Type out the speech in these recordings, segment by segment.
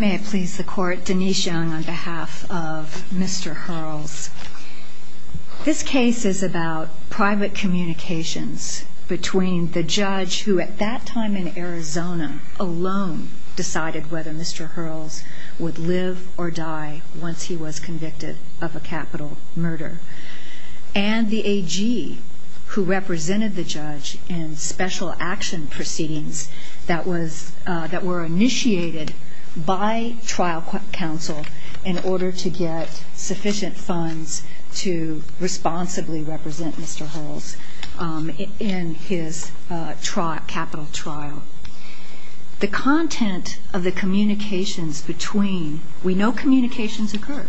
May it please the court, Denise Young on behalf of Mr. Hurles. This case is about private communications between the judge who at that time in Arizona alone decided whether Mr. Hurles would live or die once he was convicted of a capital murder and the AG who represented the judge in special action proceedings that were initiated by trial counsel in order to get sufficient funds to responsibly represent Mr. Hurles in his capital trial. The content of the communications between, we know communications occur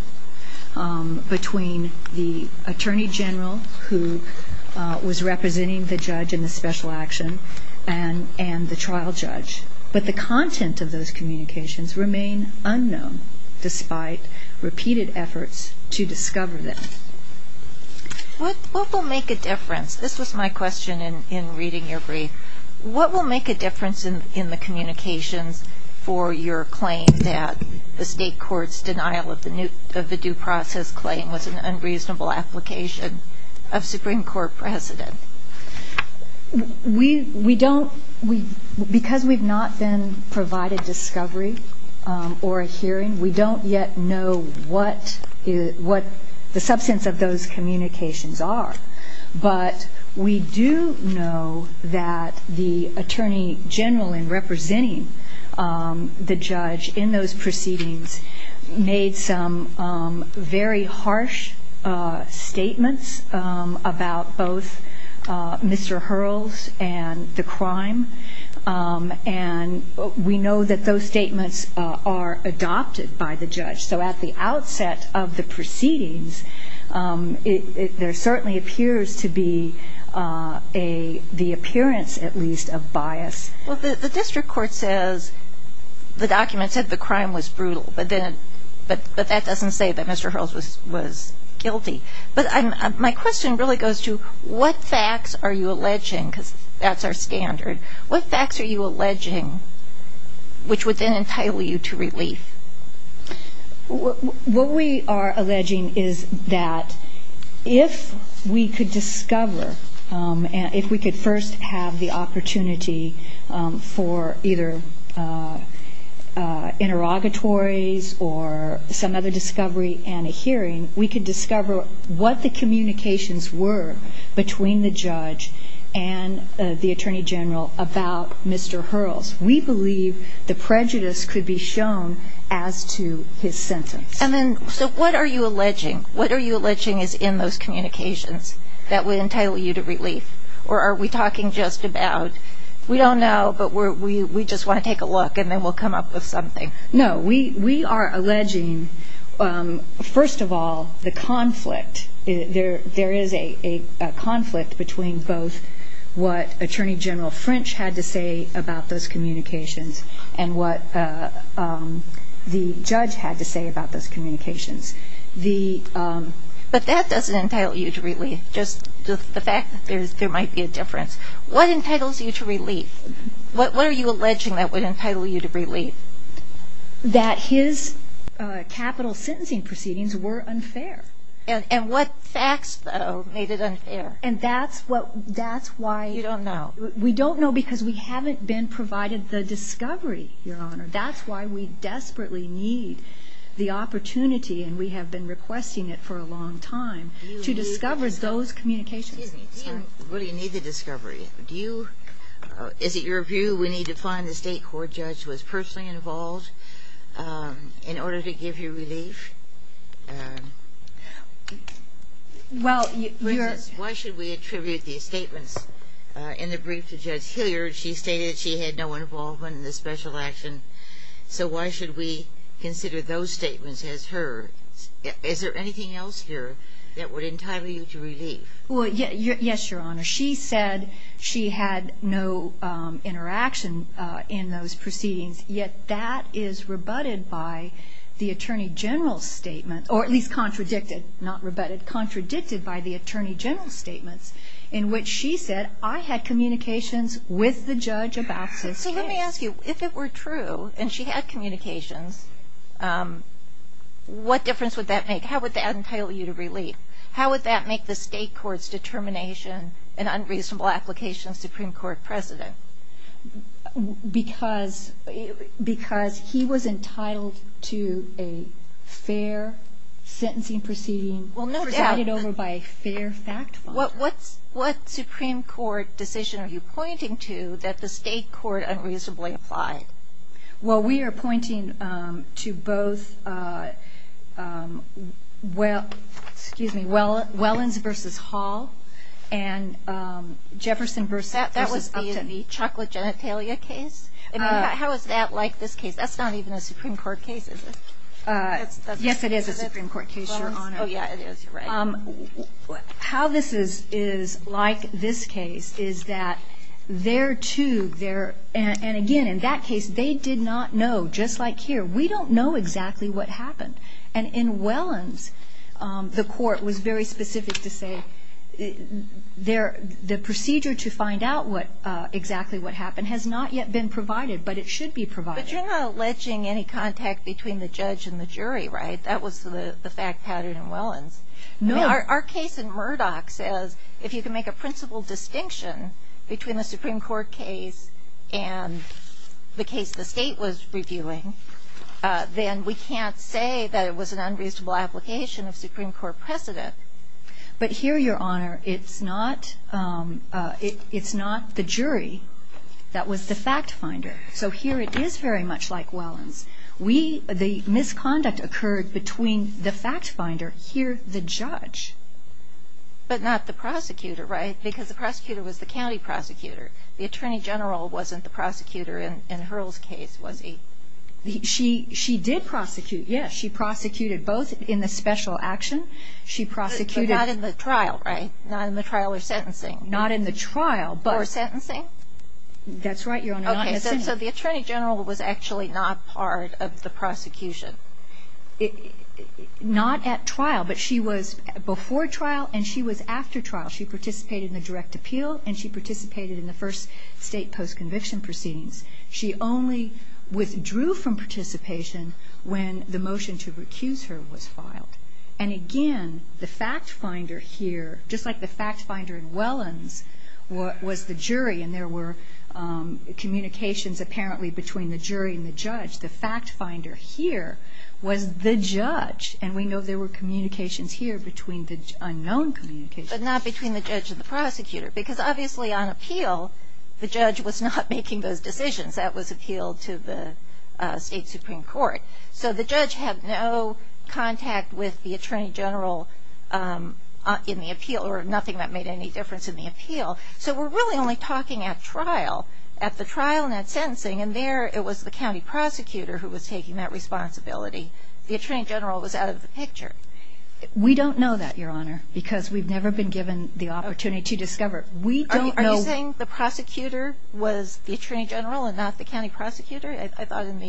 between the Attorney General who was representing the judge in the special action and the trial judge, but the content of those communications remain unknown despite repeated efforts to discover them. What will make a difference, this was my question in reading your brief, what will make a difference in in the communications for your claim that the state courts denial of the new of the due process claim was an unreasonable application of Supreme Court precedent? We we don't we because we've not been provided discovery or a hearing we don't yet know what is what the substance of those communications are but we do know that the Attorney General in representing the judge in those Mr. Hurles and the crime and we know that those statements are adopted by the judge so at the outset of the proceedings it there certainly appears to be a the appearance at least of bias. Well the district court says the document said the crime was brutal but then but but that doesn't say that Mr. Hurles was was guilty but I'm my question really goes to what facts are you alleging because that's our standard what facts are you alleging which would then entitle you to relief? What we are alleging is that if we could discover and if we could first have the opportunity for either interrogatories or some other discovery and a hearing we can discover what the communications were between the judge and the Attorney General about Mr. Hurles we believe the prejudice could be shown as to his sentence. And then so what are you alleging what are you alleging is in those communications that would entitle you to relief or are we talking just about we don't know but we just want to take a look and then we'll We are alleging first of all the conflict there there is a conflict between both what Attorney General French had to say about those communications and what the judge had to say about those communications the but that doesn't entitle you to really just the fact that there's there might be a difference what entitles you to relief what are you alleging that would entitle you to relief? That his capital sentencing proceedings were unfair. And what facts made it unfair? And that's what that's why you don't know we don't know because we haven't been provided the discovery your honor that's why we desperately need the opportunity and we have been requesting it for a long time to discover those communications. Do you need the discovery? Is it your view we need to find the state court judge was personally involved in order to give you relief? Well you're... Why should we attribute these statements in the brief to Judge Hilliard she stated she had no involvement in the special action so why should we consider those statements as her? Is there anything else here that would entitle you to relief? Well yes your honor she said she had no interaction in those proceedings yet that is rebutted by the Attorney General's statement or at least contradicted not rebutted contradicted by the Attorney General's statements in which she said I had communications with the judge about this. So let me ask you if it were true and she had communications what difference would that make how would that entail you to relief? How would that make the state courts determination an unreasonable application of Supreme Court precedent? Because because he was entitled to a fair sentencing proceeding well no doubt it over by a fair fact what what's what Supreme Court decision are you pointing to that the state court couldn't reasonably apply? Well we are pointing to both well excuse me Wellens versus Hall and Jefferson versus Upton. That was the chocolate genitalia case? How is that like this case? That's not even a Supreme Court case is it? Yes it is a Supreme Court case. How this is is like this case is that there too there and again in that case they did not know just like here we don't know exactly what happened and in Wellens the court was very specific to say there the procedure to find out what exactly what happened has not yet been provided but it should be provided. But you're not alleging any contact between the judge and the jury right? That was the fact pattern in Wellens. No. Our case in Murdoch says if you can make a principle distinction between the Supreme Court case and the case the state was reviewing then we can't say that it was an unreasonable application of Supreme Court precedent. But here Your Honor it's not it's not the jury that was the fact finder so here it is very much like Wellens. We the misconduct occurred between the fact finder here the judge. But not the prosecutor right because the prosecutor was the county prosecutor the attorney general wasn't the prosecutor in Hurl's case was he? She did prosecute yes she prosecuted both in the special action she prosecuted. But not in the trial right? Not in the trial or sentencing? Not in the trial but. Or sentencing? That's right Your Honor not in the sentencing. So the attorney general was actually not part of the not at trial but she was before trial and she was after trial. She participated in the direct appeal and she participated in the first state post conviction proceedings. She only withdrew from participation when the motion to recuse her was filed. And again the fact finder here just like the fact finder in Wellens was the jury and there were communications apparently between the jury and the judge. The fact finder here was the judge and we know there were communications here between the unknown communications. But not between the judge and the prosecutor because obviously on appeal the judge was not making those decisions that was appealed to the state Supreme Court. So the judge had no contact with the attorney general in the appeal or nothing that made any difference in the appeal. So we're really only talking at trial at the attorney general was out of the picture. We don't know that Your Honor because we've never been given the opportunity to discover. Are you saying the prosecutor was the attorney general and not the county prosecutor? I thought in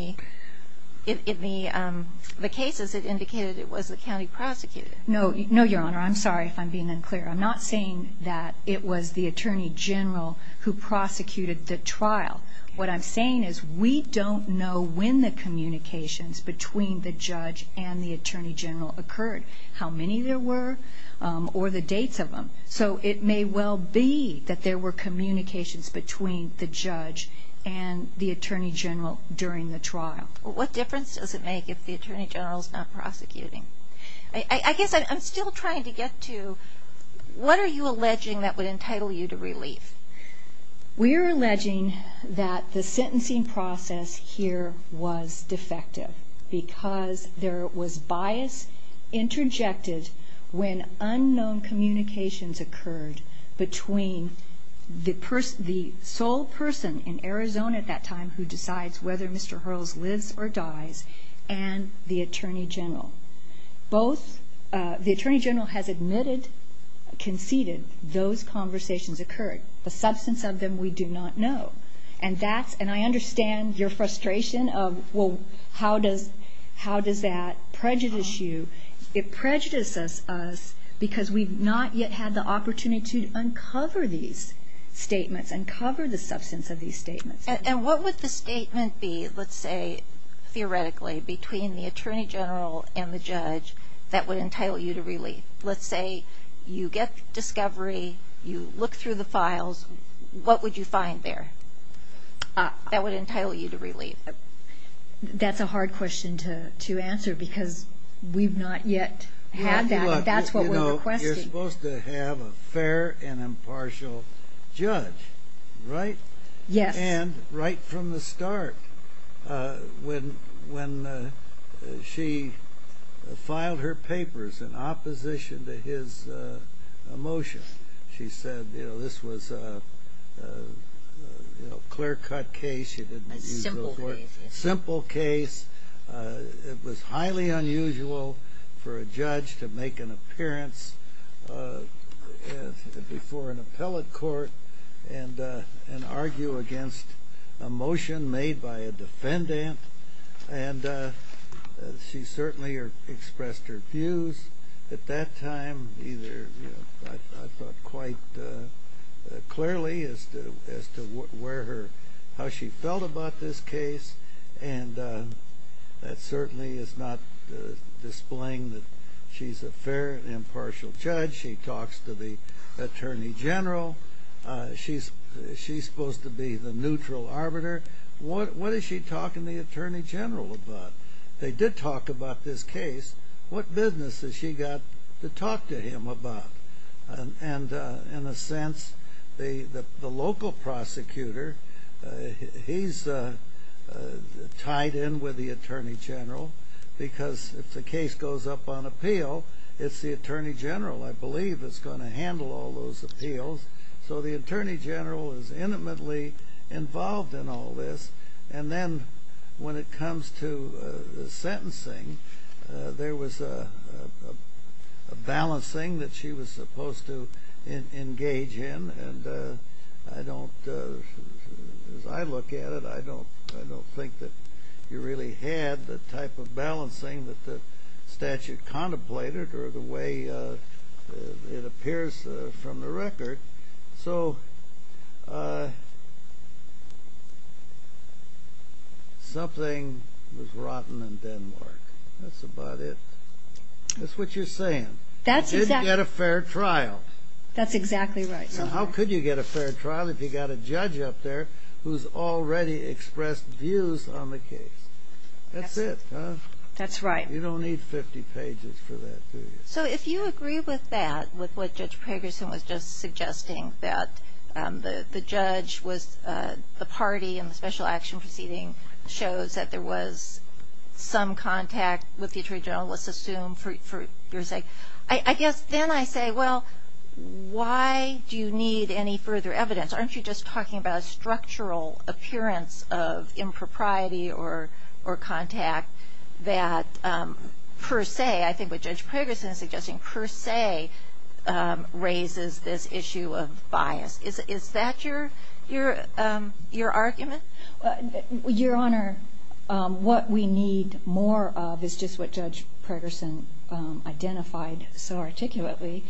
the cases it indicated it was the county prosecutor. No Your Honor I'm sorry if I'm being unclear. I'm not saying that it was the attorney general who prosecuted the trial. What I'm saying is we don't know when the communications between the judge and the attorney general occurred. How many there were or the dates of them. So it may well be that there were communications between the judge and the attorney general during the trial. What difference does it make if the attorney general is not prosecuting? I guess I'm still trying to get to what are you alleging that would entitle you to relief? We're alleging that the sentencing process here was defective because there was bias interjected when unknown communications occurred between the sole person in Arizona at that time who decides whether Mr. Hurls lives or dies and the attorney general. The attorney general has admitted, conceded those conversations occurred. The frustration of well how does that prejudice you? It prejudices us because we've not yet had the opportunity to uncover these statements, uncover the substance of these statements. And what would the statement be let's say theoretically between the attorney general and the judge that would entitle you to relief? That's a hard question to answer because we've not yet had that. That's what we're requesting. You're supposed to have a fair and impartial judge, right? Yes. And right from the start when she filed her papers in opposition to his motion she said this was a clear cut case. A simple case. A simple case. It was highly unusual for a judge to make an appeal in the court and argue against a motion made by a defendant. And she certainly expressed her views at that time. I thought quite clearly as to how she felt about this case. And that certainly is not displaying that she's a fair and impartial judge. She talks to the attorney general. She's supposed to be the neutral arbiter. What is she talking to the attorney general about? They did talk about this case. What business has she got to talk to him about? And in a sense the local prosecutor, he's tied in with the attorney general because if the case goes up on appeal, it's the attorney general, I believe. It's going to handle all those appeals. So the attorney general is intimately involved in all this. And then when it comes to the sentencing, there was a balancing that she was supposed to engage in. And I don't, as I look at it, I don't think that you really had the type of balancing that the statute contemplated or the way it appears from the record. So something was rotten in Denmark. That's about it. That's what you're saying. You didn't get a fair trial. That's exactly right. How could you get a fair trial if you've got a judge up there who's already expressed views on the case? That's it, huh? That's right. You don't need 50 pages for that, do you? So if you agree with that, with what Judge Pragerson was just suggesting, that the judge was the party and the special action proceeding shows that there was some contact with the attorney general, let's assume for your sake. I guess then I say, well, why do you need any further evidence? Aren't you just talking about a structural appearance of impropriety or contact that per se, I think what Judge Pragerson is suggesting, per se raises this issue of bias. Is that your argument? Your Honor, what we need more of is just what Judge Pragerson identified so articulately.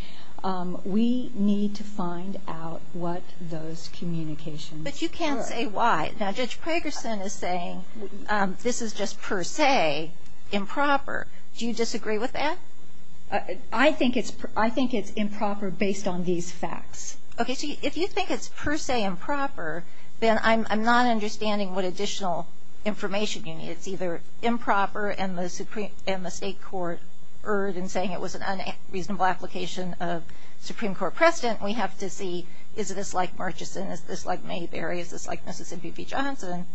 We need to find out what those communications are. But you can't say why. Now, Judge Pragerson is saying this is just per se improper. Do you disagree with that? I think it's improper based on these facts. Okay, so if you think it's per se improper, then I'm not understanding what additional information you need. It's either improper and the state court erred in saying it was an unreasonable application of Supreme Court precedent. We have to see, is this like Murchison? Is this like Mayberry? Is this like Mississippi v. Johnson?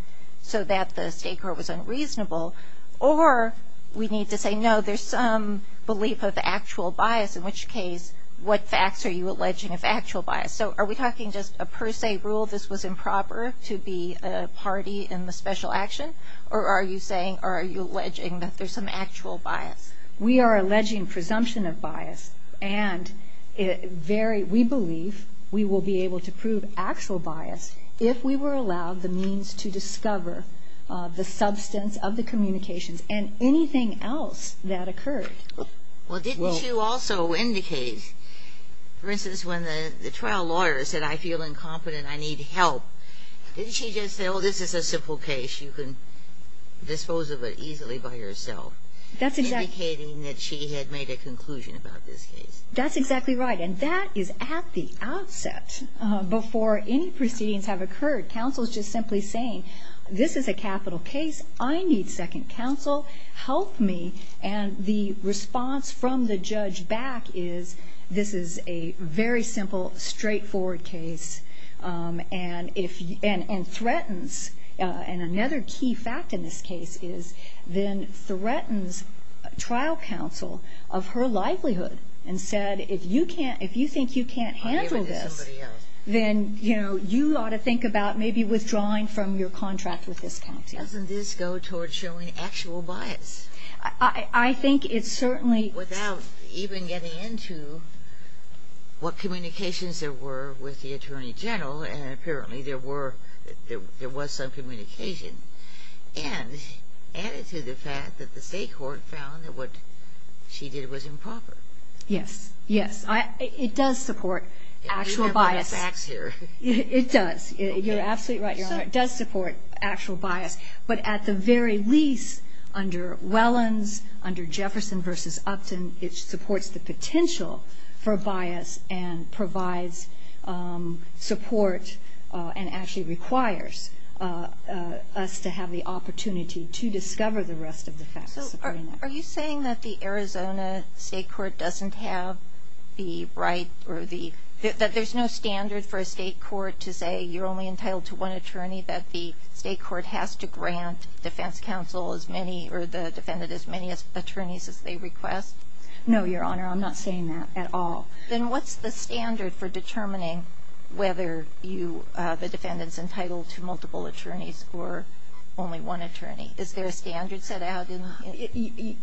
So that the state court was unreasonable. Or we need to say, no, there's some belief of actual bias, in which case, what facts are you alleging of actual bias? So are we talking just a per se rule this was improper to be a party in the special action? Or are you saying, or are you alleging that there's some actual bias? We are alleging presumption of bias. And we believe we will be able to prove actual bias if we were allowed the means to discover the substance of the communications and anything else that occurred. Well, didn't you also indicate, for instance, when the trial lawyer said, I feel incompetent, I need help. Didn't she just say, oh, this is a simple case, you can dispose of it easily by yourself? That's exactly. Indicating that she had made a conclusion about this case. That's exactly right. And that is at the outset, before any proceedings have occurred. Counsel is just simply saying, this is a capital case, I need second counsel, help me. And the response from the judge back is, this is a very simple, straightforward case. And threatens, and another key fact in this case is, then threatens trial counsel of her livelihood and said, if you think you can't handle this, then you ought to think about maybe withdrawing from your contract with this county. Doesn't this go toward showing actual bias? I think it certainly... Without even getting into what communications there were with the Attorney General, and apparently there were, there was some communication. And added to the fact that the state court found that what she did was improper. Yes, yes. It does support actual bias. Remember the facts here. It does. You're absolutely right, Your Honor. It does support actual bias. But at the very least, under Wellens, under Jefferson v. Upton, it supports the potential for bias and provides support and actually requires us to have the opportunity to discover the rest of the facts. So are you saying that the Arizona state court doesn't have the right or the, that there's no standard for a state court to say you're only entitled to one attorney, that the state court has to grant defense counsel as many or the defendant as many attorneys as they request? No, Your Honor. I'm not saying that at all. Then what's the standard for determining whether you, the defendant's entitled to multiple attorneys or only one attorney? Is there a standard set out?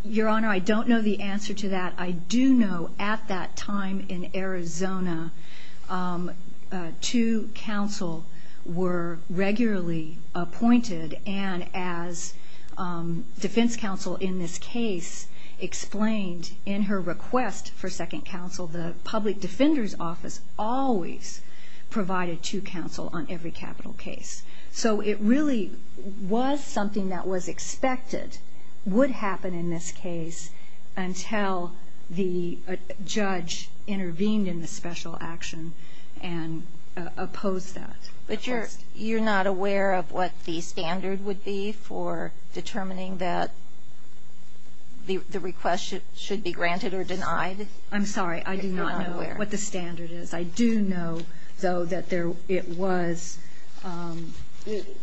Your Honor, I don't know the answer to that. I do know at that time in Arizona, two counsel were regularly appointed, and as defense counsel in this case explained in her request for second counsel, the public defender's office always provided two counsel on every capital case. So it really was something that was expected would happen in this case until the judge intervened in the special action and opposed that request. But you're not aware of what the standard would be for determining that the request should be granted or denied? I'm sorry, I do not know what the standard is. I do know, though, that it was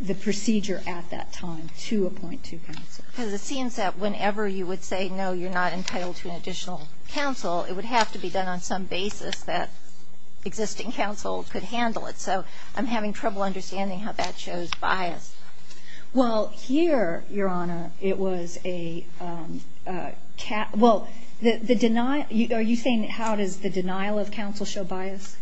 the procedure at that time to appoint two counsel. Because it seems that whenever you would say no, you're not entitled to an additional counsel, it would have to be done on some basis that existing counsel could handle it. So I'm having trouble understanding how that shows bias. Well, here, Your Honor, it was a, well, the denial, are you saying how does the denial of counsel show bias?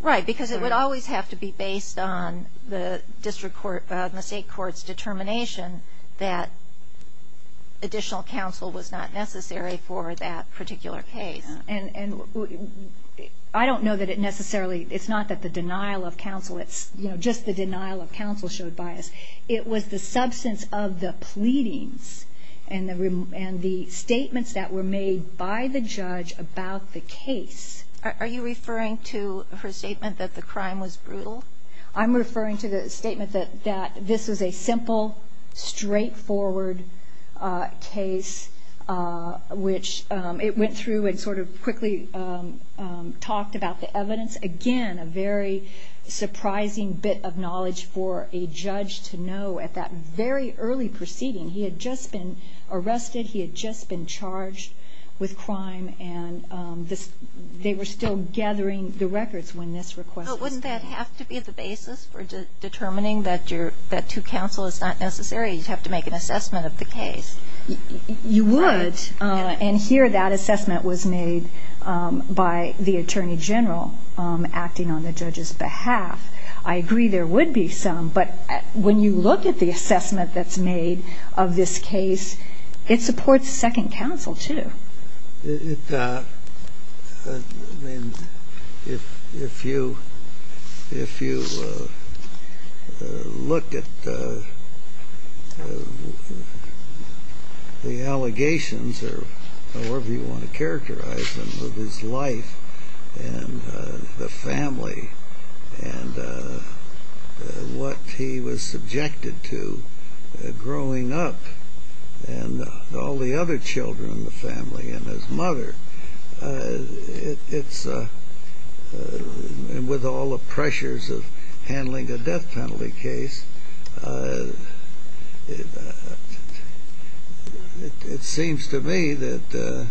Right, because it would always have to be based on the district court, the state court's determination that additional counsel was not necessary for that particular case. And I don't know that it necessarily, it's not that the denial of counsel, it's just the denial of counsel showed bias. It was the substance of the pleadings and the statements that were made by the judge about the case. Are you referring to her statement that the crime was brutal? I'm referring to the statement that this was a simple, straightforward case, which it went through and sort of quickly talked about the evidence. Again, a very surprising bit of knowledge for a judge to know at that very early proceeding. He had just been arrested, he had just been charged with crime, and they were still gathering the records when this request was made. But wouldn't that have to be the basis for determining that two counsel is not necessary? You'd have to make an assessment of the case. You would, and here that assessment was made by the attorney general acting on the judge's behalf. I agree there would be some, but when you look at the assessment that's made of this case, it supports second counsel, too. If you look at the allegations, or however you want to characterize them, of his life and the family and what he was subjected to growing up, and all the other children in the family and his mother, and with all the pressures of handling a death penalty case, it seems to me that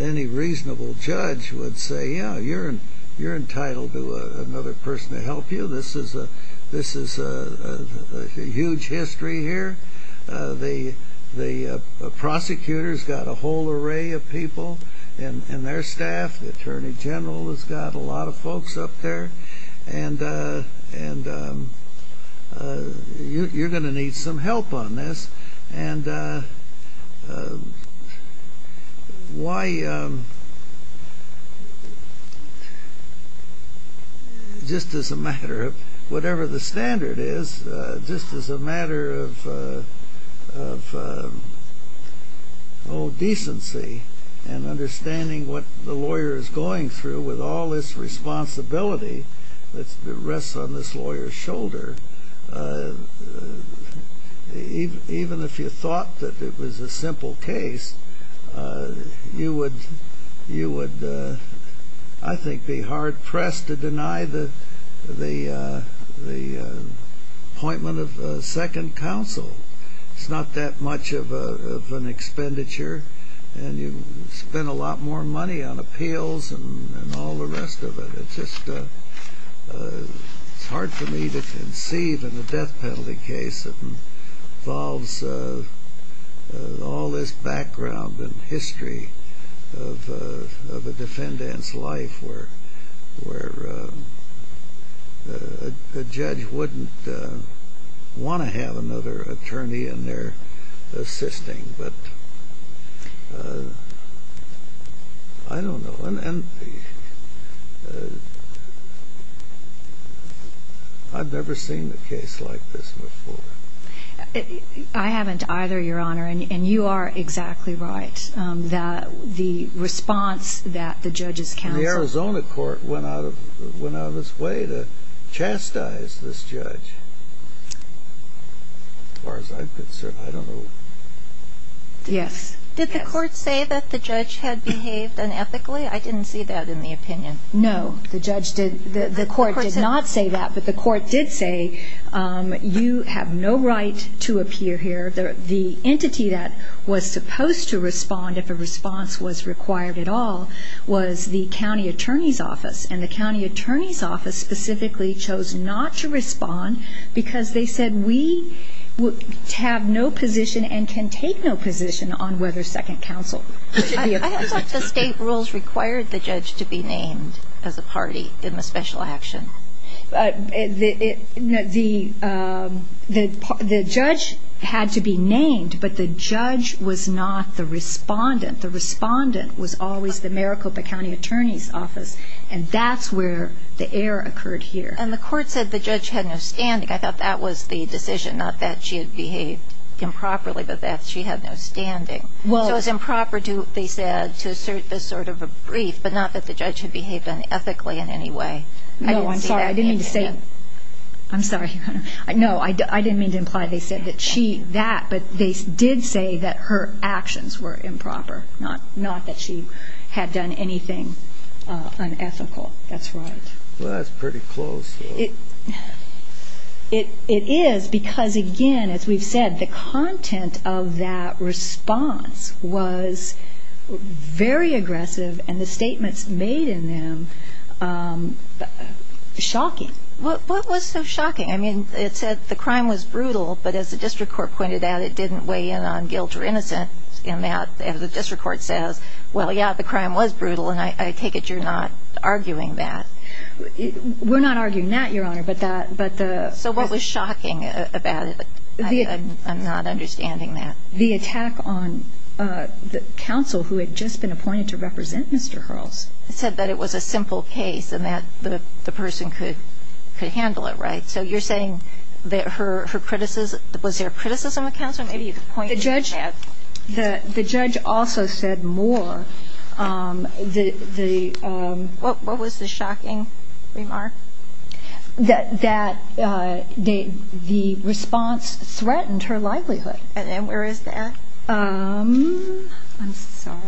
any reasonable judge would say, yeah, you're entitled to another person to help you. This is a huge history here. The prosecutor's got a whole array of people in their staff. The attorney general has got a lot of folks up there, and you're going to need some help on this. And why, just as a matter of whatever the standard is, just as a matter of decency and understanding what the lawyer is going through with all this responsibility that rests on this lawyer's shoulder, even if you thought that it was a simple case, you would, I think, be hard-pressed to deny the appointment of second counsel. It's not that much of an expenditure, and you spend a lot more money on appeals and all the rest of it. It's just hard for me to conceive in a death penalty case that involves all this background and history of a defendant's life where the judge wouldn't want to have another attorney in there assisting, but I don't know. And I've never seen a case like this before. I haven't either, Your Honor, and you are exactly right. The response that the judge's counsel... And the Arizona court went out of its way to chastise this judge. As far as I'm concerned, I don't know. Yes. Did the court say that the judge had behaved unethically? I didn't see that in the opinion. No. The court did not say that, but the court did say, you have no right to appear here. The entity that was supposed to respond, if a response was required at all, was the county attorney's office, and the county attorney's office specifically chose not to respond because they said, we have no position and can take no position on whether second counsel should be appointed. I thought the state rules required the judge to be named as a party in the special action. The judge had to be named, but the judge was not the respondent. The respondent was always the Maricopa County attorney's office, and that's where the error occurred here. And the court said the judge had no standing. I thought that was the decision, not that she had behaved improperly, but that she had no standing. So it was improper, they said, to assert this sort of a brief, but not that the judge had behaved unethically in any way. No, I'm sorry. I didn't mean to say that. I'm sorry. No, I didn't mean to imply they said that she, that, but they did say that her actions were improper, not that she had done anything unethical. That's right. Well, that's pretty close. It is because, again, as we've said, the content of that response was very aggressive, and the statements made in them shocking. What was so shocking? I mean, it said the crime was brutal, but as the district court pointed out, it didn't weigh in on guilt or innocence in that, as the district court says, well, yeah, the crime was brutal, and I take it you're not arguing that. We're not arguing that, Your Honor, but the ---- So what was shocking about it? I'm not understanding that. The attack on the counsel who had just been appointed to represent Mr. Hurls. It said that it was a simple case and that the person could handle it, right? So you're saying that her criticism, was there criticism of counsel? The judge also said more. What was the shocking remark? That the response threatened her livelihood. And then where is that? I'm sorry.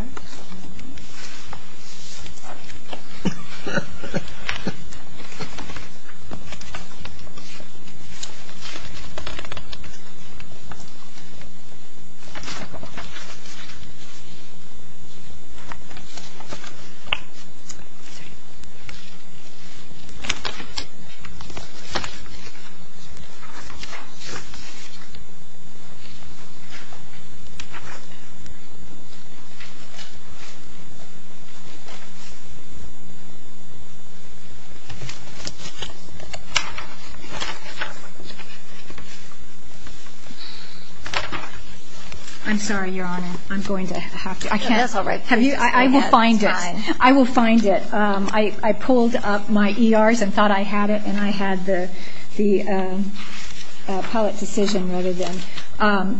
I'm sorry, Your Honor. I'm going to have to ---- That's all right. I will find it. I will find it. I pulled up my ERs and thought I had it, and I had the public decision rather than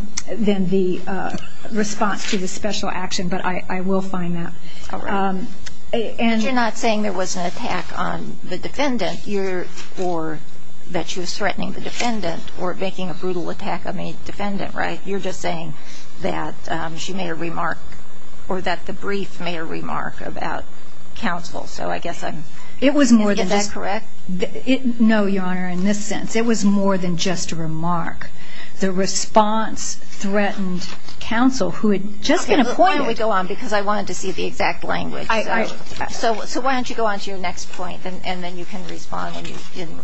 the response to the special action, but I will find that. All right. And you're not saying there was an attack on the defendant or that she was threatening the defendant or making a brutal attack on a defendant, right? You're just saying that she made a remark or that the brief made a remark about counsel. So I guess I'm ---- It was more than just ---- Is that correct? No, Your Honor, in this sense. It was more than just a remark. The response threatened counsel who had just been appointed. Why don't we go on, because I wanted to see the exact language. So why don't you go on to your next point, and then you can respond in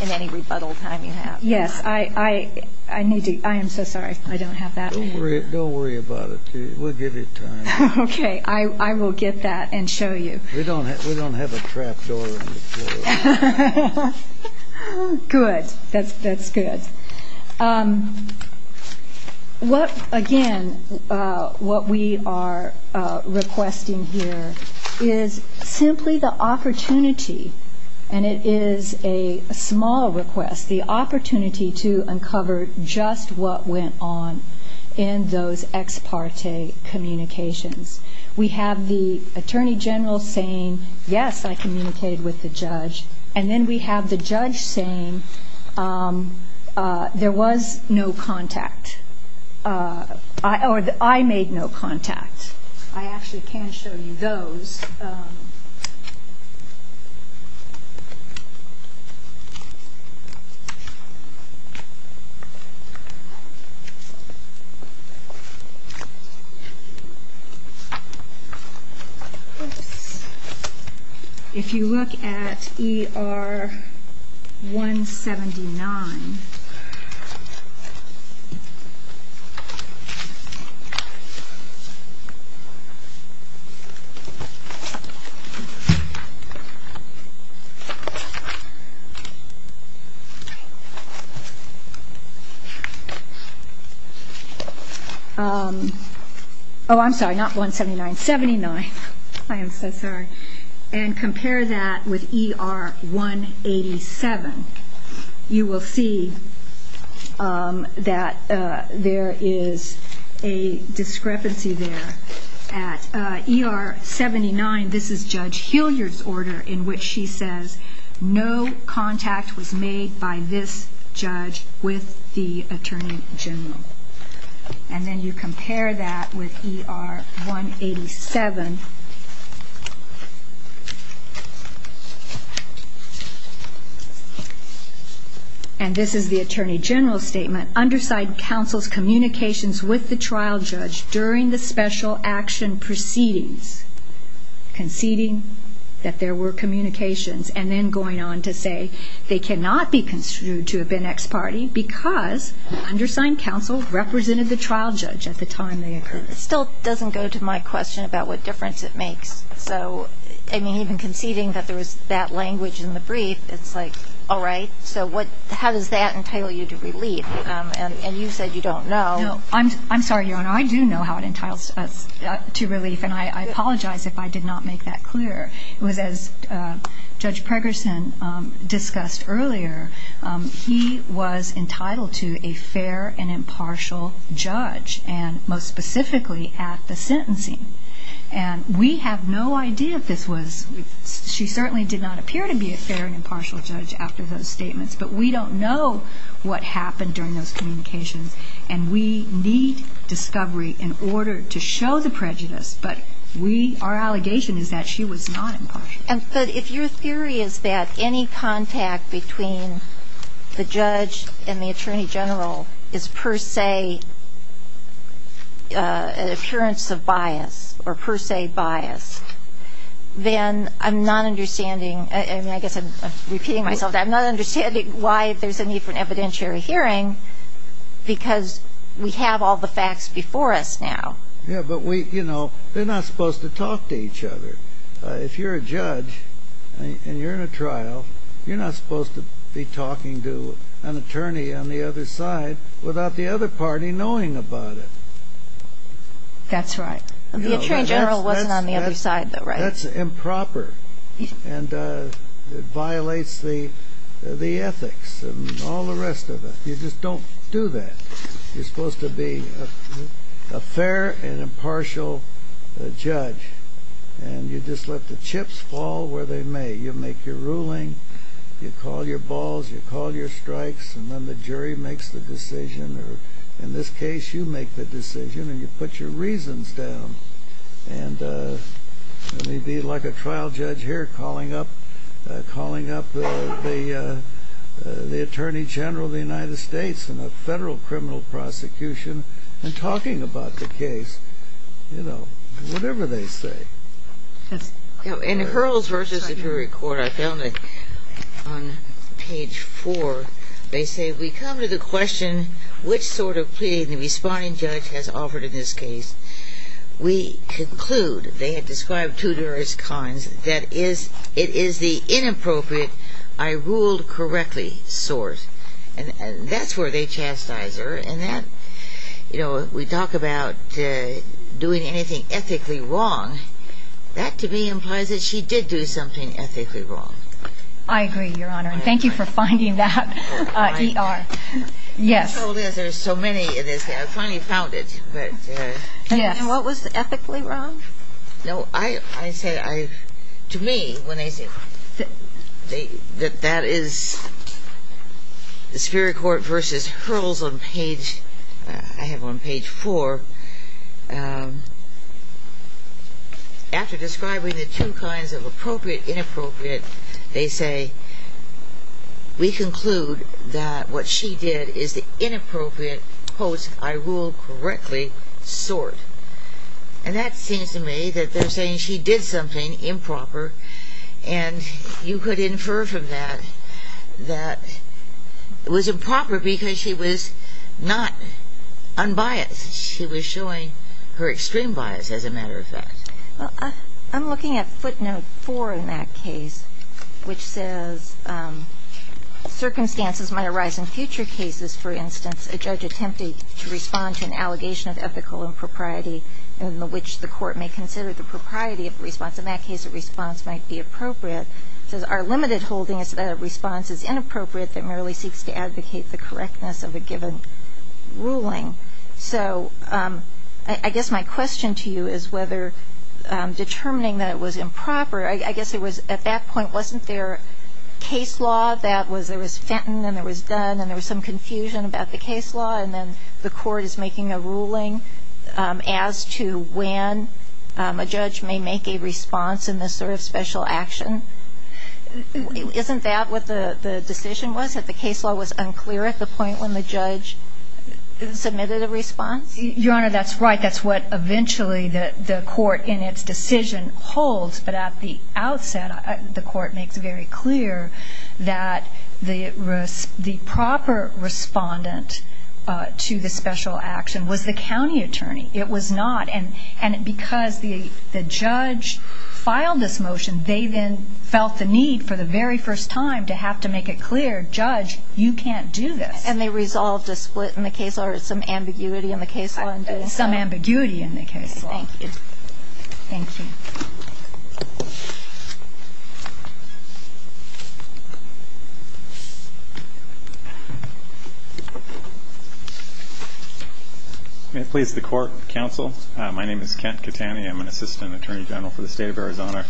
any rebuttal time you have. Yes. I need to ---- I am so sorry. I don't have that. Don't worry about it. We'll give you time. Okay. I will get that and show you. We don't have a trap door on the floor. Good. That's good. Again, what we are requesting here is simply the opportunity, and it is a small request, the opportunity to uncover just what went on in those ex parte communications. We have the attorney general saying, yes, I communicated with the judge, and then we have the judge saying, there was no contact, or I made no contact. I actually can show you those. If you look at ER 179. Oh, I'm sorry, not 179, 79. I am so sorry. And compare that with ER 187. You will see that there is a discrepancy there. At ER 79, this is Judge Hilliard's order in which she says, no contact was made by this judge with the attorney general. And then you compare that with ER 187. And this is the attorney general's statement, undersigned counsel's communications with the trial judge during the special action proceedings, conceding that there were communications, and then going on to say, they cannot be construed to have been ex parte because undersigned counsel represented the trial judge at the time they occurred. It still doesn't go to my question about what difference it makes. So, I mean, even conceding that there was that language in the brief, it's like, all right. So how does that entitle you to relief? And you said you don't know. No, I'm sorry, Your Honor. I do know how it entitles us to relief, and I apologize if I did not make that clear. It was, as Judge Pregerson discussed earlier, he was entitled to a fair and impartial judge, and most specifically at the sentencing. And we have no idea if this was, she certainly did not appear to be a fair and impartial judge after those statements, but we don't know what happened during those communications, and we need discovery in order to show the prejudice. But we, our allegation is that she was not impartial. But if your theory is that any contact between the judge and the attorney general is per se an appearance of bias, or per se bias, then I'm not understanding, and I guess I'm repeating myself, I'm not understanding why there's a need for an evidentiary hearing, because we have all the facts before us now. Yeah, but we, you know, they're not supposed to talk to each other. If you're a judge, and you're in a trial, you're not supposed to be talking to an attorney on the other side without the other party knowing about it. That's right. The attorney general wasn't on the other side, though, right? That's improper, and it violates the ethics, and all the rest of it. You just don't do that. You're supposed to be a fair and impartial judge, and you just let the chips fall where they may. You make your ruling, you call your balls, you call your strikes, and then the jury makes the decision, or in this case, you make the decision, and you put your reasons down. And you'd be like a trial judge here calling up the attorney general of the United States in a federal criminal prosecution and talking about the case. You know, whatever they say. In Hurls v. Superior Court, I found it on page 4, they say, we come to the question, which sort of plea the responding judge has offered in this case. We conclude, they had described two various kinds, that it is the inappropriate, I-ruled-correctly sort. And that's where they chastise her, and that, you know, we talk about doing anything ethically wrong, that to me implies that she did do something ethically wrong. I agree, Your Honor, and thank you for finding that, E.R. Yes. There's so many in this case, I finally found it. And what was ethically wrong? No, I say, to me, when they say that that is the Superior Court v. Hurls on page, I have it on page 4, after describing the two kinds of appropriate, inappropriate, they say, we conclude that what she did is the inappropriate, post-I-rule-correctly sort. And that seems to me that they're saying she did something improper, and you could infer from that, that it was improper because she was not unbiased. She was showing her extreme bias, as a matter of fact. Well, I'm looking at footnote 4 in that case, which says, circumstances might arise in future cases, for instance, a judge attempting to respond to an allegation of ethical impropriety, in which the court may consider the propriety of response. In that case, a response might be appropriate. It says, our limited holding is that a response is inappropriate that merely seeks to advocate the correctness of a given ruling. So I guess my question to you is whether determining that it was improper, I guess it was, at that point, wasn't there case law that was, there was Fenton, and there was Dunn, and there was some confusion about the case law, and then the court is making a ruling as to when a judge may make a response in this sort of special action. Isn't that what the decision was, that the case law was unclear at the point when the judge submitted a response? Your Honor, that's right. That's what eventually the court, in its decision, holds. But at the outset, the court makes very clear that the proper respondent to the special action was the county attorney. It was not. And because the judge filed this motion, they then felt the need for the very first time to have to make it clear, judge, you can't do this. And they resolved a split in the case law or some ambiguity in the case law? Some ambiguity in the case law. Thank you. Thank you. May it please the court, counsel. My name is Kent Catani. I'm an assistant attorney general for the state of Arizona,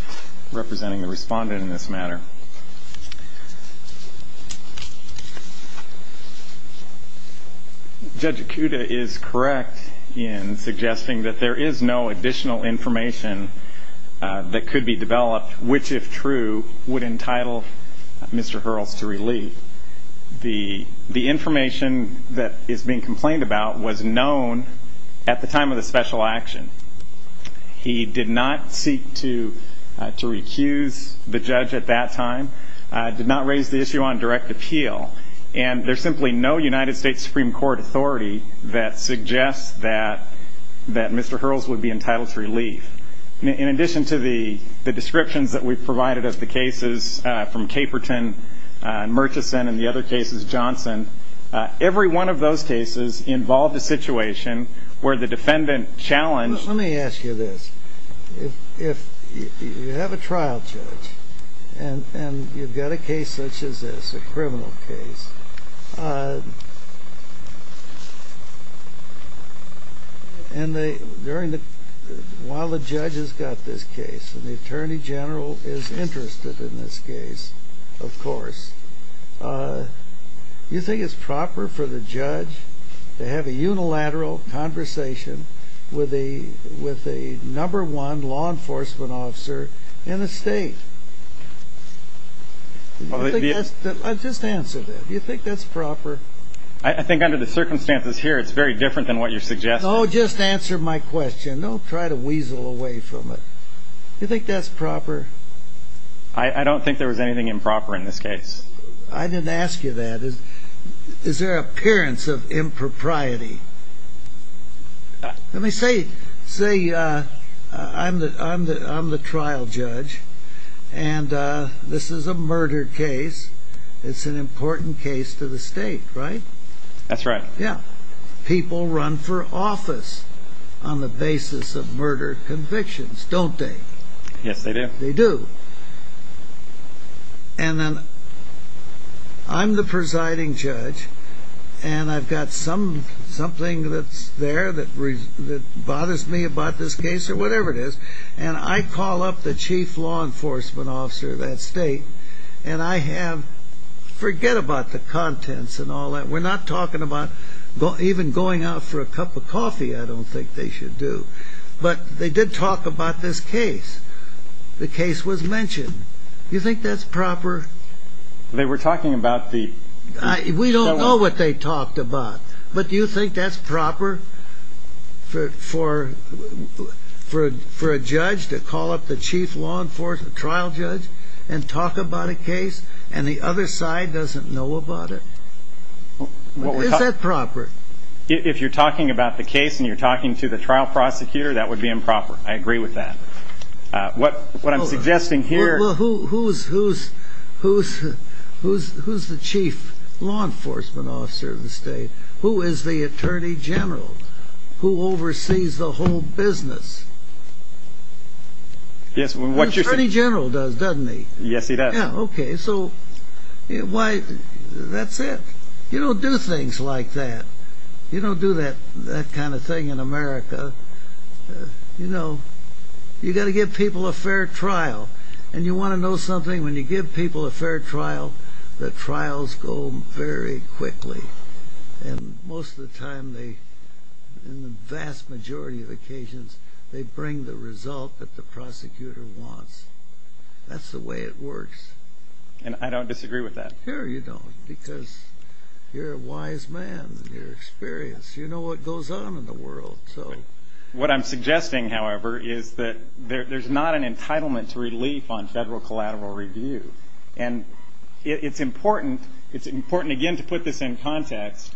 representing the respondent in this matter. Judge Acuda is correct in suggesting that there is no additional information that could be developed which, if true, would entitle Mr. Hurrells to relief. The information that is being complained about was known at the time of the special action. He did not seek to recuse the judge at that time. He did not raise the issue on direct appeal. And there's simply no United States Supreme Court authority that suggests that Mr. Hurrells would be entitled to relief. In addition to the descriptions that we've provided of the cases from Caperton and Murchison and the other cases, Johnson, every one of those cases involved a situation where the defendant challenged. Let me ask you this. You have a trial judge, and you've got a case such as this, a criminal case. While the judge has got this case, and the attorney general is interested in this case, of course, do you think it's proper for the judge to have a unilateral conversation with the number one law enforcement officer in the state? Just answer that. Do you think that's proper? I think under the circumstances here, it's very different than what you're suggesting. Oh, just answer my question. Don't try to weasel away from it. Do you think that's proper? I don't think there was anything improper in this case. I didn't ask you that. Is there an appearance of impropriety? Let me say, I'm the trial judge, and this is a murder case. It's an important case to the state, right? That's right. Yeah. People run for office on the basis of murder convictions, don't they? Yes, they do. And then, I'm the presiding judge, and I've got something that's there that bothers me about this case, or whatever it is, and I call up the chief law enforcement officer of that state, and I have, forget about the contents and all that. We're not talking about even going out for a cup of coffee, I don't think they should do. But they did talk about this case. The case was mentioned. Do you think that's proper? They were talking about the- We don't know what they talked about. But do you think that's proper for a judge to call up the chief law enforcement trial judge and talk about a case, and the other side doesn't know about it? Is that proper? If you're talking about the case and you're talking to the trial prosecutor, that would be improper. I agree with that. What I'm suggesting here- Well, who's the chief law enforcement officer of the state? Who is the attorney general? Who oversees the whole business? Yes, what you're saying- The attorney general does, doesn't he? Yes, he does. Yeah, okay, so that's it. You don't do things like that. You don't do that kind of thing in America. You know, you've got to give people a fair trial, and you want to know something? When you give people a fair trial, the trials go very quickly. And most of the time, in the vast majority of occasions, they bring the result that the prosecutor wants. That's the way it works. And I don't disagree with that. No, you don't, because you're a wise man, and you're experienced. You know what goes on in the world. What I'm suggesting, however, is that there's not an entitlement to relief on federal collateral review. And it's important, again, to put this in context.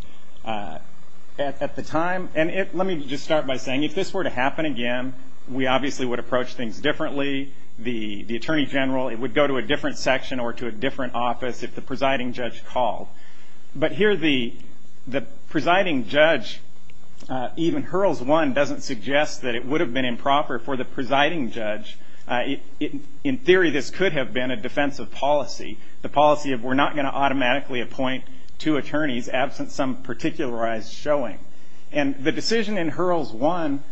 At the time, and let me just start by saying, if this were to happen again, we obviously would approach things differently. The attorney general, it would go to a different section or to a different office if the presiding judge called. But here, the presiding judge, even Hurls 1, doesn't suggest that it would have been improper for the presiding judge. In theory, this could have been a defensive policy, the policy of we're not going to automatically appoint two attorneys absent some particularized showing. And the decision in Hurls 1,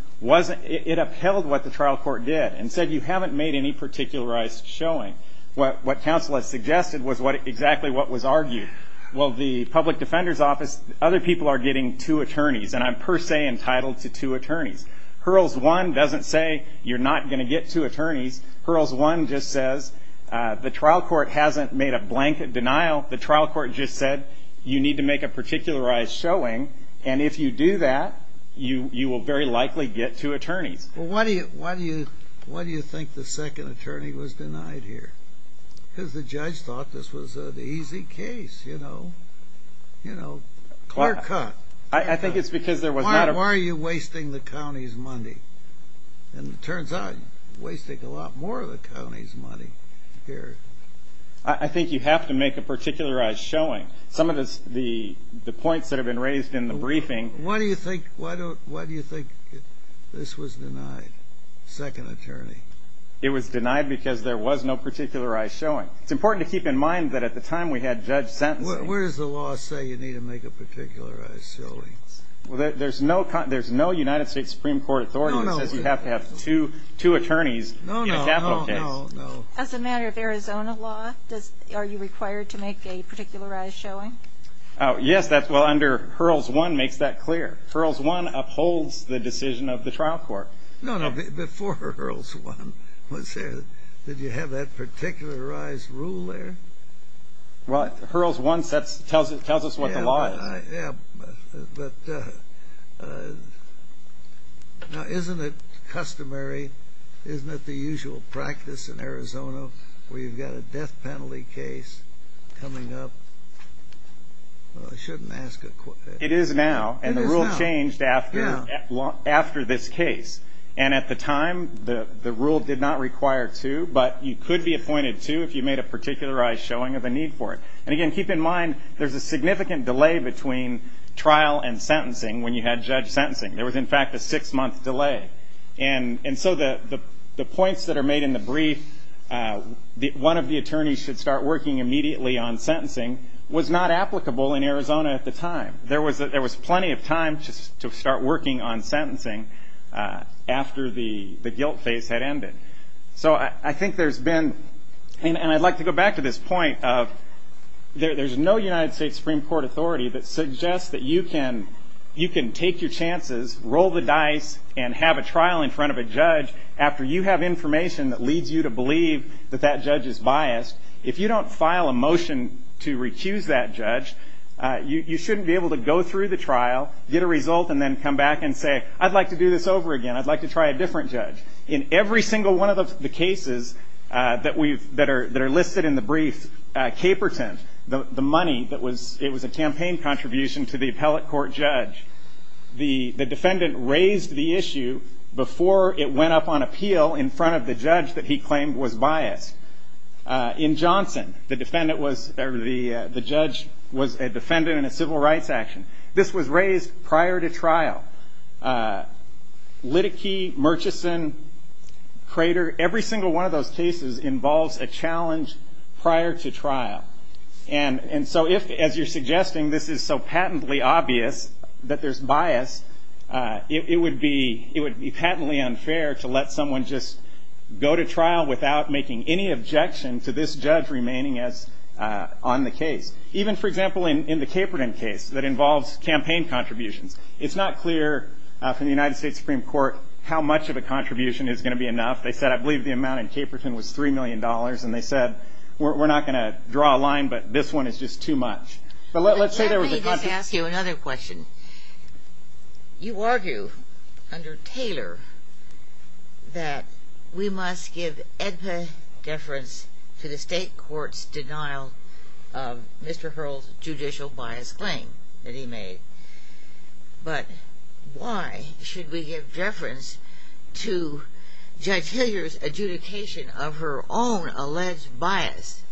it upheld what the trial court did and said you haven't made any particularized showing. What counsel has suggested was exactly what was argued. Well, the public defender's office, other people are getting two attorneys, and I'm per se entitled to two attorneys. Hurls 1 doesn't say you're not going to get two attorneys. Hurls 1 just says the trial court hasn't made a blank denial. The trial court just said you need to make a particularized showing, and if you do that, you will very likely get two attorneys. Well, why do you think the second attorney was denied here? Because the judge thought this was an easy case, you know? You know, clear cut. I think it's because there was not a... Why are you wasting the county's money? And it turns out you're wasting a lot more of the county's money here. I think you have to make a particularized showing. Some of the points that have been raised in the briefing... Why do you think this was denied, second attorney? It was denied because there was no particularized showing. It's important to keep in mind that at the time we had judge sentencing... Where does the law say you need to make a particularized showing? Well, there's no United States Supreme Court authority that says you have to have two attorneys in a capital case. No, no. As a matter of Arizona law, are you required to make a particularized showing? Yes. Well, under Hurls 1 makes that clear. Hurls 1 upholds the decision of the trial court. No, no. Before Hurls 1 was there, did you have that particularized rule there? Well, Hurls 1 tells us what the law is. Yeah, but now isn't it customary? Isn't it the usual practice in Arizona where you've got a death penalty case coming up? I shouldn't ask a question. It is now, and the rule changed after this case. And at the time, the rule did not require two, but you could be appointed two if you made a particularized showing of a need for it. And, again, keep in mind there's a significant delay between trial and sentencing when you had judge sentencing. There was, in fact, a six-month delay. And so the points that are made in the brief, one of the attorneys should start working immediately on sentencing, was not applicable in Arizona at the time. There was plenty of time to start working on sentencing after the guilt phase had ended. So I think there's been, and I'd like to go back to this point of there's no United States Supreme Court authority that suggests that you can take your chances, roll the dice, and have a trial in front of a judge after you have information that leads you to believe that that judge is biased. If you don't file a motion to recuse that judge, you shouldn't be able to go through the trial, get a result, and then come back and say, I'd like to do this over again. I'd like to try a different judge. In every single one of the cases that are listed in the brief, Caperton, the money that was a campaign contribution to the appellate court judge, the defendant raised the issue before it went up on appeal in front of the judge that he claimed was biased. In Johnson, the judge was a defendant in a civil rights action. This was raised prior to trial. Liddickey, Murchison, Crater, every single one of those cases involves a challenge prior to trial. And so if, as you're suggesting, this is so patently obvious that there's bias, it would be patently unfair to let someone just go to trial without making any objection to this judge remaining on the case. Even, for example, in the Caperton case that involves campaign contributions, it's not clear from the United States Supreme Court how much of a contribution is going to be enough. They said, I believe the amount in Caperton was $3 million, and they said, we're not going to draw a line, but this one is just too much. Let me just ask you another question. You argue under Taylor that we must give edpa deference to the state court's denial of Mr. Hurl's judicial bias claim that he made. But why should we give deference to Judge Hilliard's adjudication of her own alleged bias?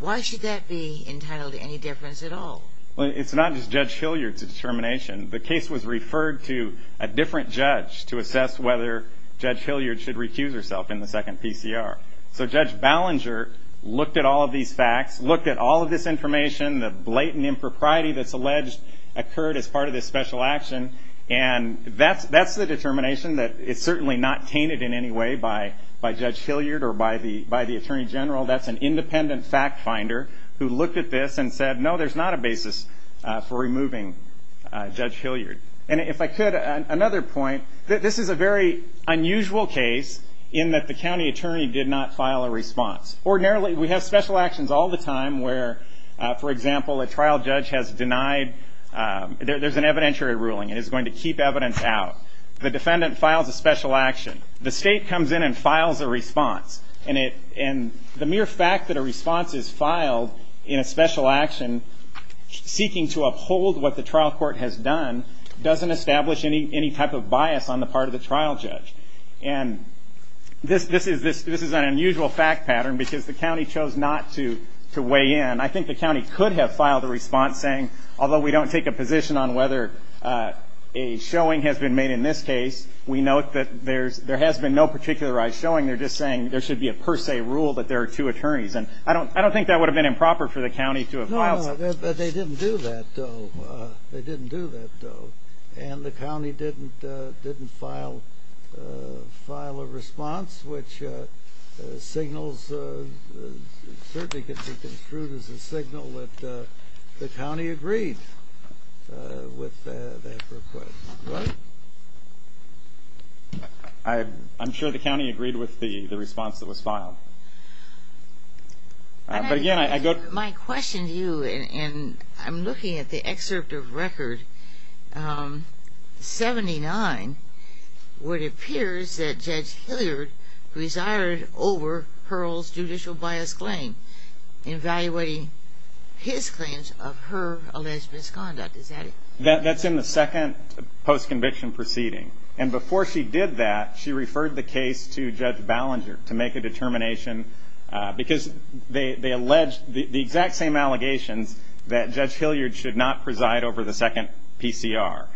Why should that be entitled to any deference at all? Well, it's not just Judge Hilliard's determination. The case was referred to a different judge to assess whether Judge Hilliard should recuse herself in the second PCR. So Judge Ballinger looked at all of these facts, looked at all of this information, the blatant impropriety that's alleged occurred as part of this special action, and that's the determination that is certainly not tainted in any way by Judge Hilliard or by the Attorney General. That's an independent fact finder who looked at this and said, no, there's not a basis for removing Judge Hilliard. And if I could, another point, this is a very unusual case in that the county attorney did not file a response. Ordinarily, we have special actions all the time where, for example, a trial judge has denied, there's an evidentiary ruling and is going to keep evidence out. The defendant files a special action. The state comes in and files a response. And the mere fact that a response is filed in a special action seeking to uphold what the trial court has done doesn't establish any type of bias on the part of the trial judge. And this is an unusual fact pattern because the county chose not to weigh in. I think the county could have filed a response saying, although we don't take a position on whether a showing has been made in this case, we note that there has been no particularized showing. They're just saying there should be a per se rule that there are two attorneys. And I don't think that would have been improper for the county to have filed a response. No, they didn't do that, though. They didn't do that, though. And the county didn't file a response, which signals, certainly could be construed as a signal that the county agreed with that request. Right? I'm sure the county agreed with the response that was filed. But again, I go to you. My question to you, and I'm looking at the excerpt of record 79, where it appears that Judge Hilliard presided over Hurl's judicial bias claim, evaluating his claims of her alleged misconduct. Is that it? That's in the second post-conviction proceeding. And before she did that, she referred the case to Judge Ballinger to make a determination because they alleged the exact same allegations that Judge Hilliard should not preside over the second PCR.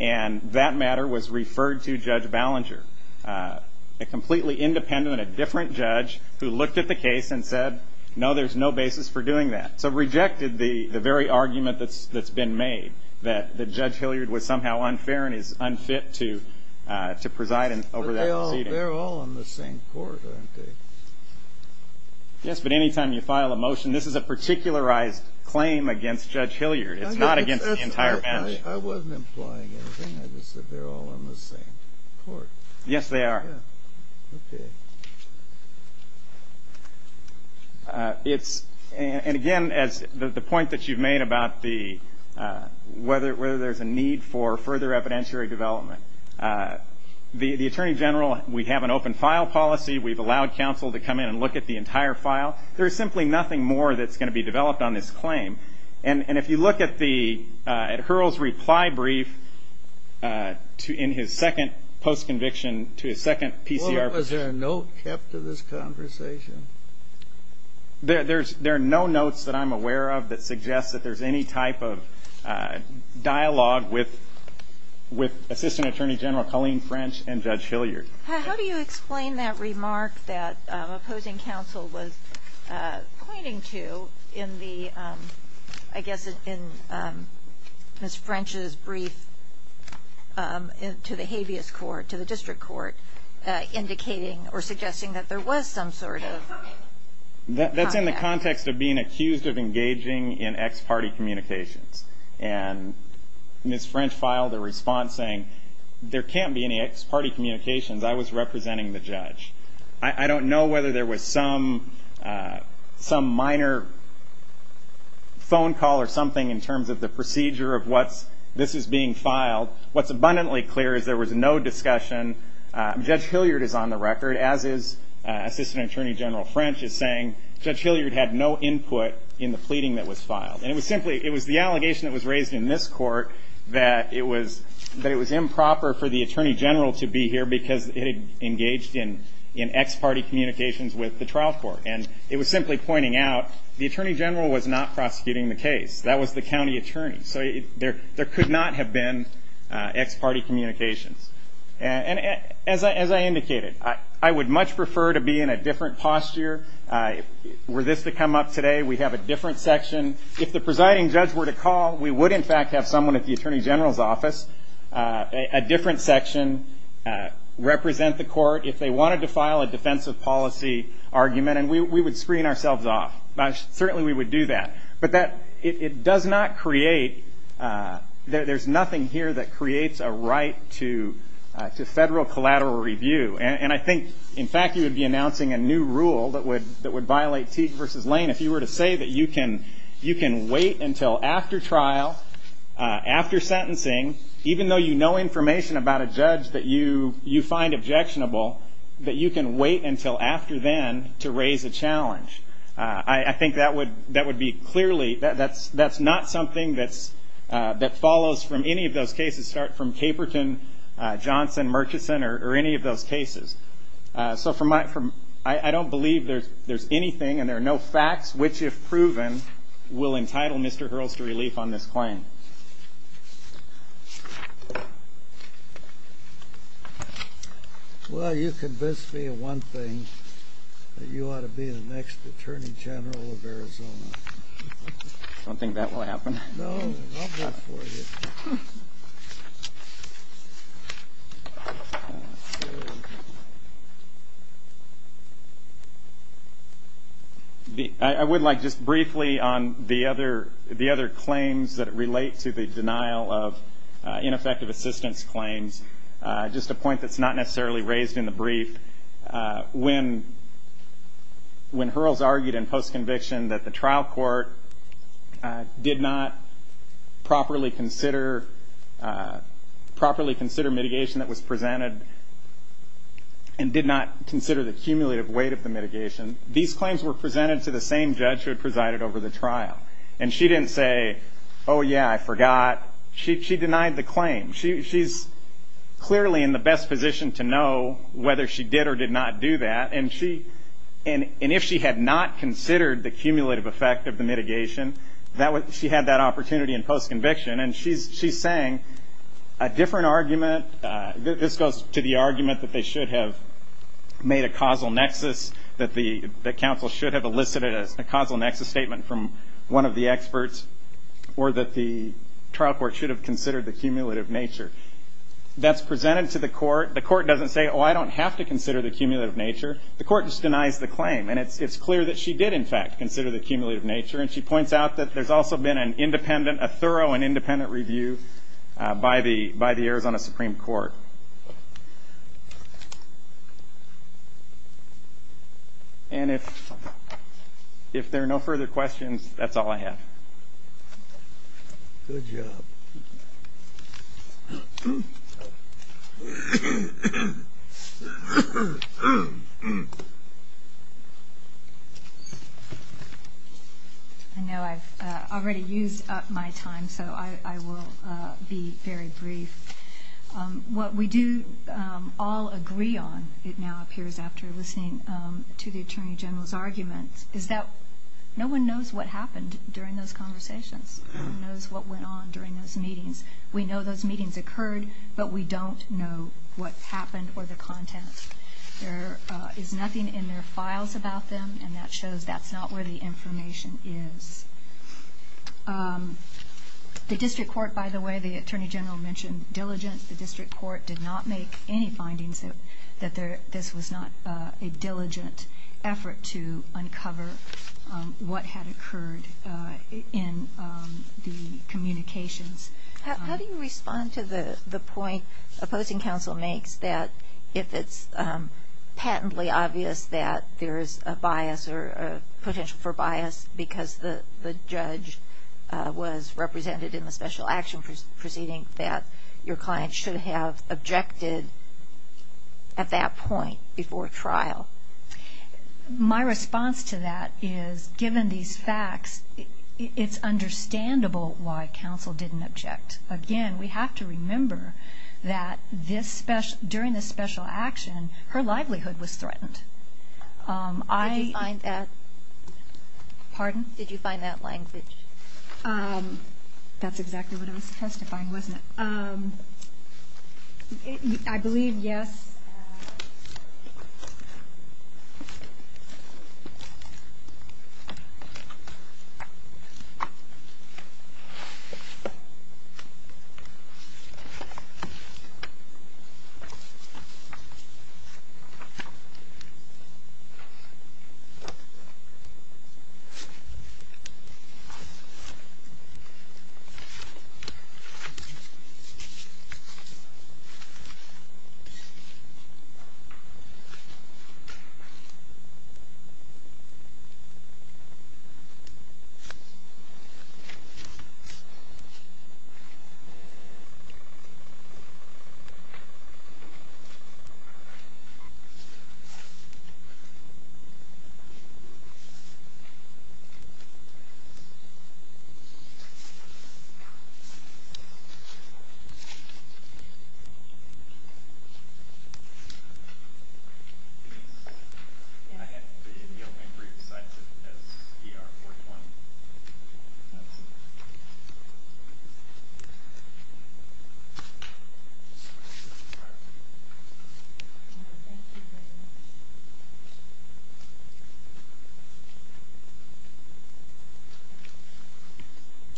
And that matter was referred to Judge Ballinger, a completely independent, a different judge who looked at the case and said, no, there's no basis for doing that. So rejected the very argument that's been made that Judge Hilliard was somehow unfair and is unfit to preside over that proceeding. But they're all on the same court, aren't they? Yes, but any time you file a motion, this is a particularized claim against Judge Hilliard. It's not against the entire bench. I wasn't implying anything. I just said they're all on the same court. Yes, they are. Okay. And again, the point that you've made about whether there's a need for further evidentiary development, the Attorney General, we have an open file policy. We've allowed counsel to come in and look at the entire file. There's simply nothing more that's going to be developed on this claim. And if you look at the Hurrell's reply brief in his second post-conviction to his second PCR. Was there a note kept to this conversation? There are no notes that I'm aware of that suggest that there's any type of dialogue with Assistant Attorney General Colleen French and Judge Hilliard. How do you explain that remark that opposing counsel was pointing to in the, I guess, in Ms. French's brief to the habeas court, to the district court, indicating or suggesting that there was some sort of contact? That's in the context of being accused of engaging in ex parte communications. And Ms. French filed a response saying, there can't be any ex parte communications. I was representing the judge. I don't know whether there was some minor phone call or something in terms of the procedure of what's, this is being filed. What's abundantly clear is there was no discussion. Judge Hilliard is on the record, as is Assistant Attorney General French, is saying Judge Hilliard had no input in the pleading that was filed. And it was simply, it was the allegation that was raised in this court that it was improper for the Attorney General to be here because it had engaged in ex parte communications with the trial court. And it was simply pointing out the Attorney General was not prosecuting the case. That was the county attorney. So there could not have been ex parte communications. And as I indicated, I would much prefer to be in a different posture. Were this to come up today, we'd have a different section. If the presiding judge were to call, we would in fact have someone at the Attorney General's office, a different section, represent the court. If they wanted to file a defensive policy argument, and we would screen ourselves off. Certainly we would do that. But it does not create, there's nothing here that creates a right to federal collateral review. And I think in fact you would be announcing a new rule that would violate Teague v. Lane if you were to say that you can wait until after trial, after sentencing, even though you know information about a judge that you find objectionable, that you can wait until after then to raise a challenge. I think that would be clearly, that's not something that follows from any of those cases, start from Caperton, Johnson, Murchison, or any of those cases. So I don't believe there's anything, and there are no facts, which if proven will entitle Mr. Hurls to relief on this claim. Well, you convinced me of one thing, that you ought to be the next Attorney General of Arizona. I don't think that will happen. I would like just briefly on the other claims that relate to the denial of ineffective assistance claims, just a point that's not necessarily raised in the brief. When Hurls argued in post-conviction that the trial court did not properly consider mitigation that was presented and did not consider the cumulative weight of the mitigation, these claims were presented to the same judge who had presided over the trial. And she didn't say, oh, yeah, I forgot. She denied the claim. She's clearly in the best position to know whether she did or did not do that. And if she had not considered the cumulative effect of the mitigation, she had that opportunity in post-conviction. And she's saying a different argument, this goes to the argument that they should have made a causal nexus, that the counsel should have elicited a causal nexus statement from one of the experts, or that the trial court should have considered the cumulative nature. That's presented to the court. The court doesn't say, oh, I don't have to consider the cumulative nature. The court just denies the claim. And it's clear that she did, in fact, consider the cumulative nature. And she points out that there's also been an independent, a thorough and independent review by the Arizona Supreme Court. And if there are no further questions, that's all I have. Good job. I know I've already used up my time, so I will be very brief. What we do all agree on, it now appears after listening to the Attorney General's argument, is that no one knows what happened during those conversations. No one knows what went on during those meetings. We know those meetings occurred, but we don't know what happened or the content. There is nothing in their files about them, and that shows that's not where the information is. The district court, by the way, the Attorney General mentioned diligence. The district court did not make any findings that this was not a diligent effort to uncover what had occurred in the communications. How do you respond to the point opposing counsel makes that if it's patently obvious that there is a bias or potential for bias because the judge was represented in the special action proceeding, that your client should have objected at that point before trial? My response to that is, given these facts, it's understandable why counsel didn't object. Again, we have to remember that during this special action, her livelihood was threatened. Did you find that? Pardon? Did you find that language? That's exactly what I was testifying, wasn't it? I believe yes. Thank you.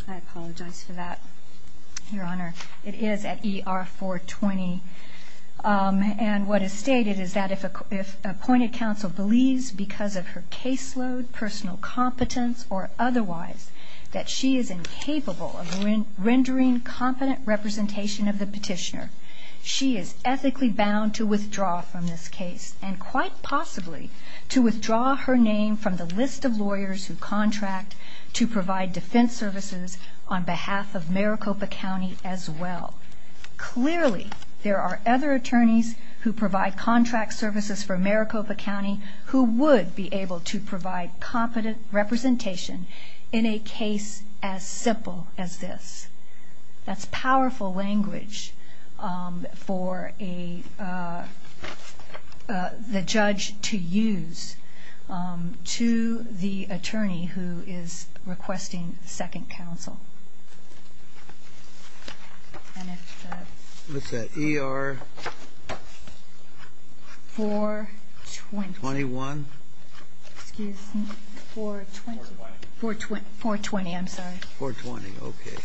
I apologize for that, Your Honor. It is at ER 420. And what is stated is that if appointed counsel believes because of her caseload, personal competence, or otherwise that she is incapable of rendering competent representation of the petitioner, she is ethically bound to withdraw from this case and quite possibly to withdraw her name from the list of lawyers who contract to provide defense services on behalf of Maricopa County as well. Clearly, there are other attorneys who provide contract services for Maricopa County who would be able to provide competent representation in a case as simple as this. That's powerful language for the judge to use to the attorney who is requesting second counsel. What's that, ER 421? Excuse me, 420. 420, I'm sorry. 420, okay.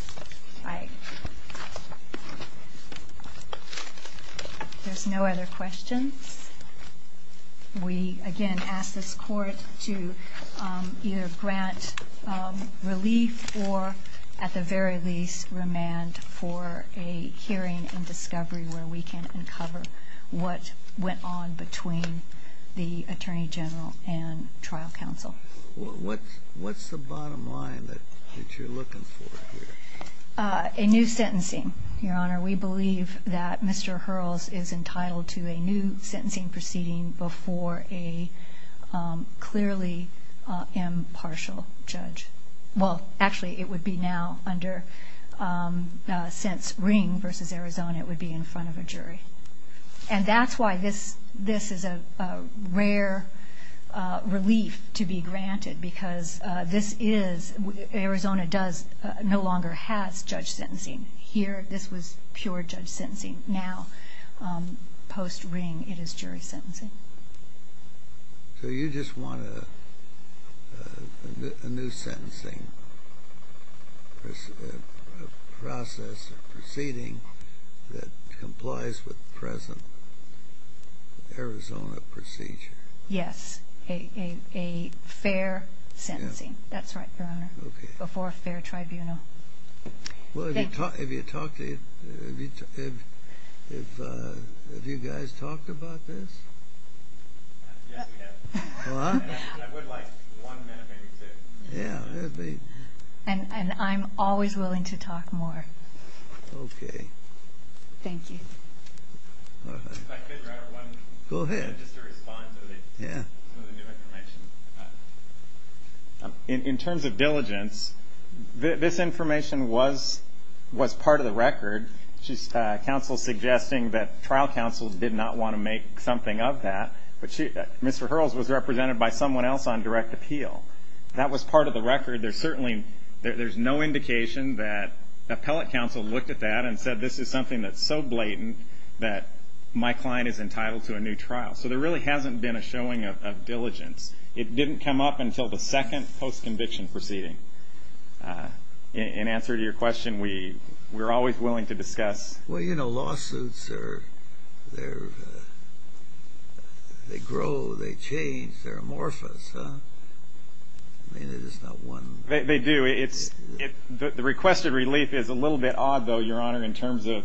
There's no other questions. We, again, ask this court to either grant relief or, at the very least, remand for a hearing and discovery where we can uncover what went on between the attorney general and trial counsel. What's the bottom line that you're looking for here? A new sentencing, Your Honor. We believe that Mr. Hurls is entitled to a new sentencing proceeding before a clearly impartial judge. Well, actually, it would be now under, since Ring v. Arizona, it would be in front of a jury. And that's why this is a rare relief to be granted, because Arizona no longer has judge sentencing. Here, this was pure judge sentencing. Now, post-Ring, it is jury sentencing. So you just want a new sentencing process or proceeding that complies with present Arizona procedure? Yes, a fair sentencing, that's right, Your Honor, before a fair tribunal. Well, have you guys talked about this? Yes, we have. I would like one minute, maybe two. And I'm always willing to talk more. Okay. Thank you. If I could, Your Honor, one, just to respond to some of the new information. In terms of diligence, this information was part of the record. Counsel is suggesting that trial counsel did not want to make something of that, but Mr. Hurls was represented by someone else on direct appeal. That was part of the record. There's certainly no indication that appellate counsel looked at that and said, this is something that's so blatant that my client is entitled to a new trial. So there really hasn't been a showing of diligence. It didn't come up until the second post-conviction proceeding. In answer to your question, we're always willing to discuss. Well, you know, lawsuits, they grow, they change, they're amorphous. I mean, there's just not one. They do. The requested relief is a little bit odd, though, Your Honor, in terms of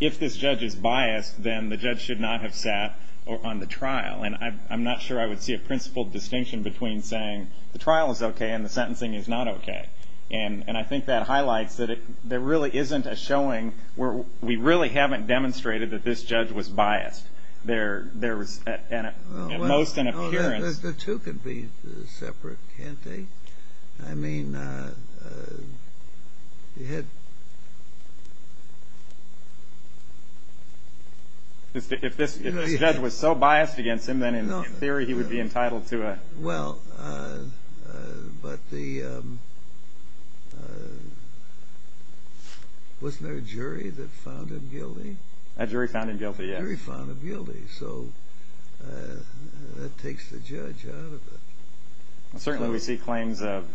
if this judge is biased, then the judge should not have sat on the trial. And I'm not sure I would see a principled distinction between saying the trial is okay and the sentencing is not okay. And I think that highlights that there really isn't a showing where we really haven't demonstrated that this judge was biased. There was at most an appearance. The two could be separate, can't they? I mean, you had... If this judge was so biased against him, then in theory he would be entitled to a... Well, but the... Wasn't there a jury that found him guilty? A jury found him guilty, yes. A jury found him guilty, so that takes the judge out of it. Certainly we see claims of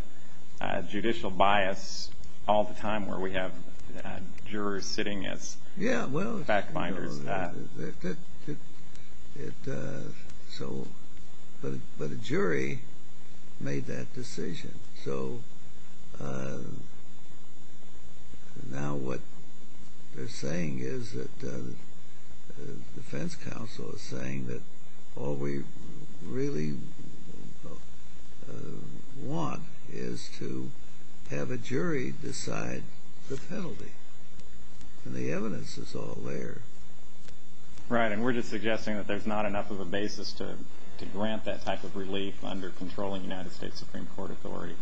judicial bias all the time where we have jurors sitting as back-binders. But a jury made that decision. So now what they're saying is that the defense counsel is saying that all we really want is to have a jury decide the penalty. And the evidence is all there. Right, and we're just suggesting that there's not enough of a basis to grant that type of relief under controlling United States Supreme Court authority.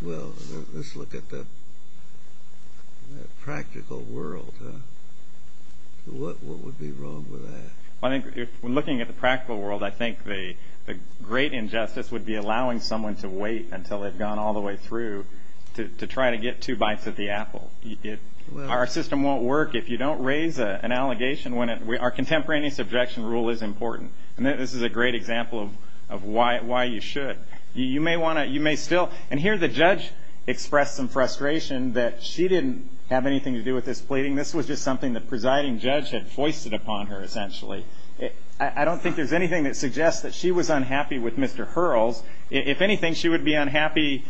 Well, let's look at the practical world. What would be wrong with that? Well, I think when looking at the practical world, I think the great injustice would be allowing someone to wait until they've gone all the way through to try to get two bites of the apple. Our system won't work if you don't raise an allegation. Our contemporaneous objection rule is important. And this is a great example of why you should. You may still... And here the judge expressed some frustration that she didn't have anything to do with this pleading. This was just something the presiding judge had foisted upon her, essentially. I don't think there's anything that suggests that she was unhappy with Mr. Hurrell's. If anything, she would be unhappy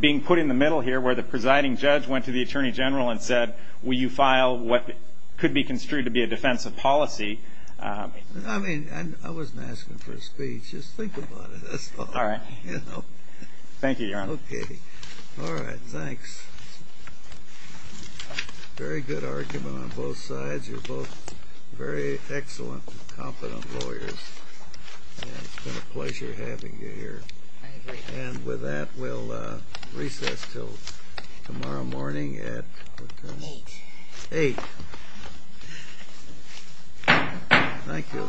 being put in the middle here where the presiding judge went to the attorney general and said, will you file what could be construed to be a defensive policy? I mean, I wasn't asking for a speech. Just think about it, that's all. All right. Thank you, Your Honor. Okay. All right, thanks. Very good argument on both sides. You're both very excellent, competent lawyers. It's been a pleasure having you here. I agree. And with that, we'll recess until tomorrow morning at... Eight. Eight. Thank you.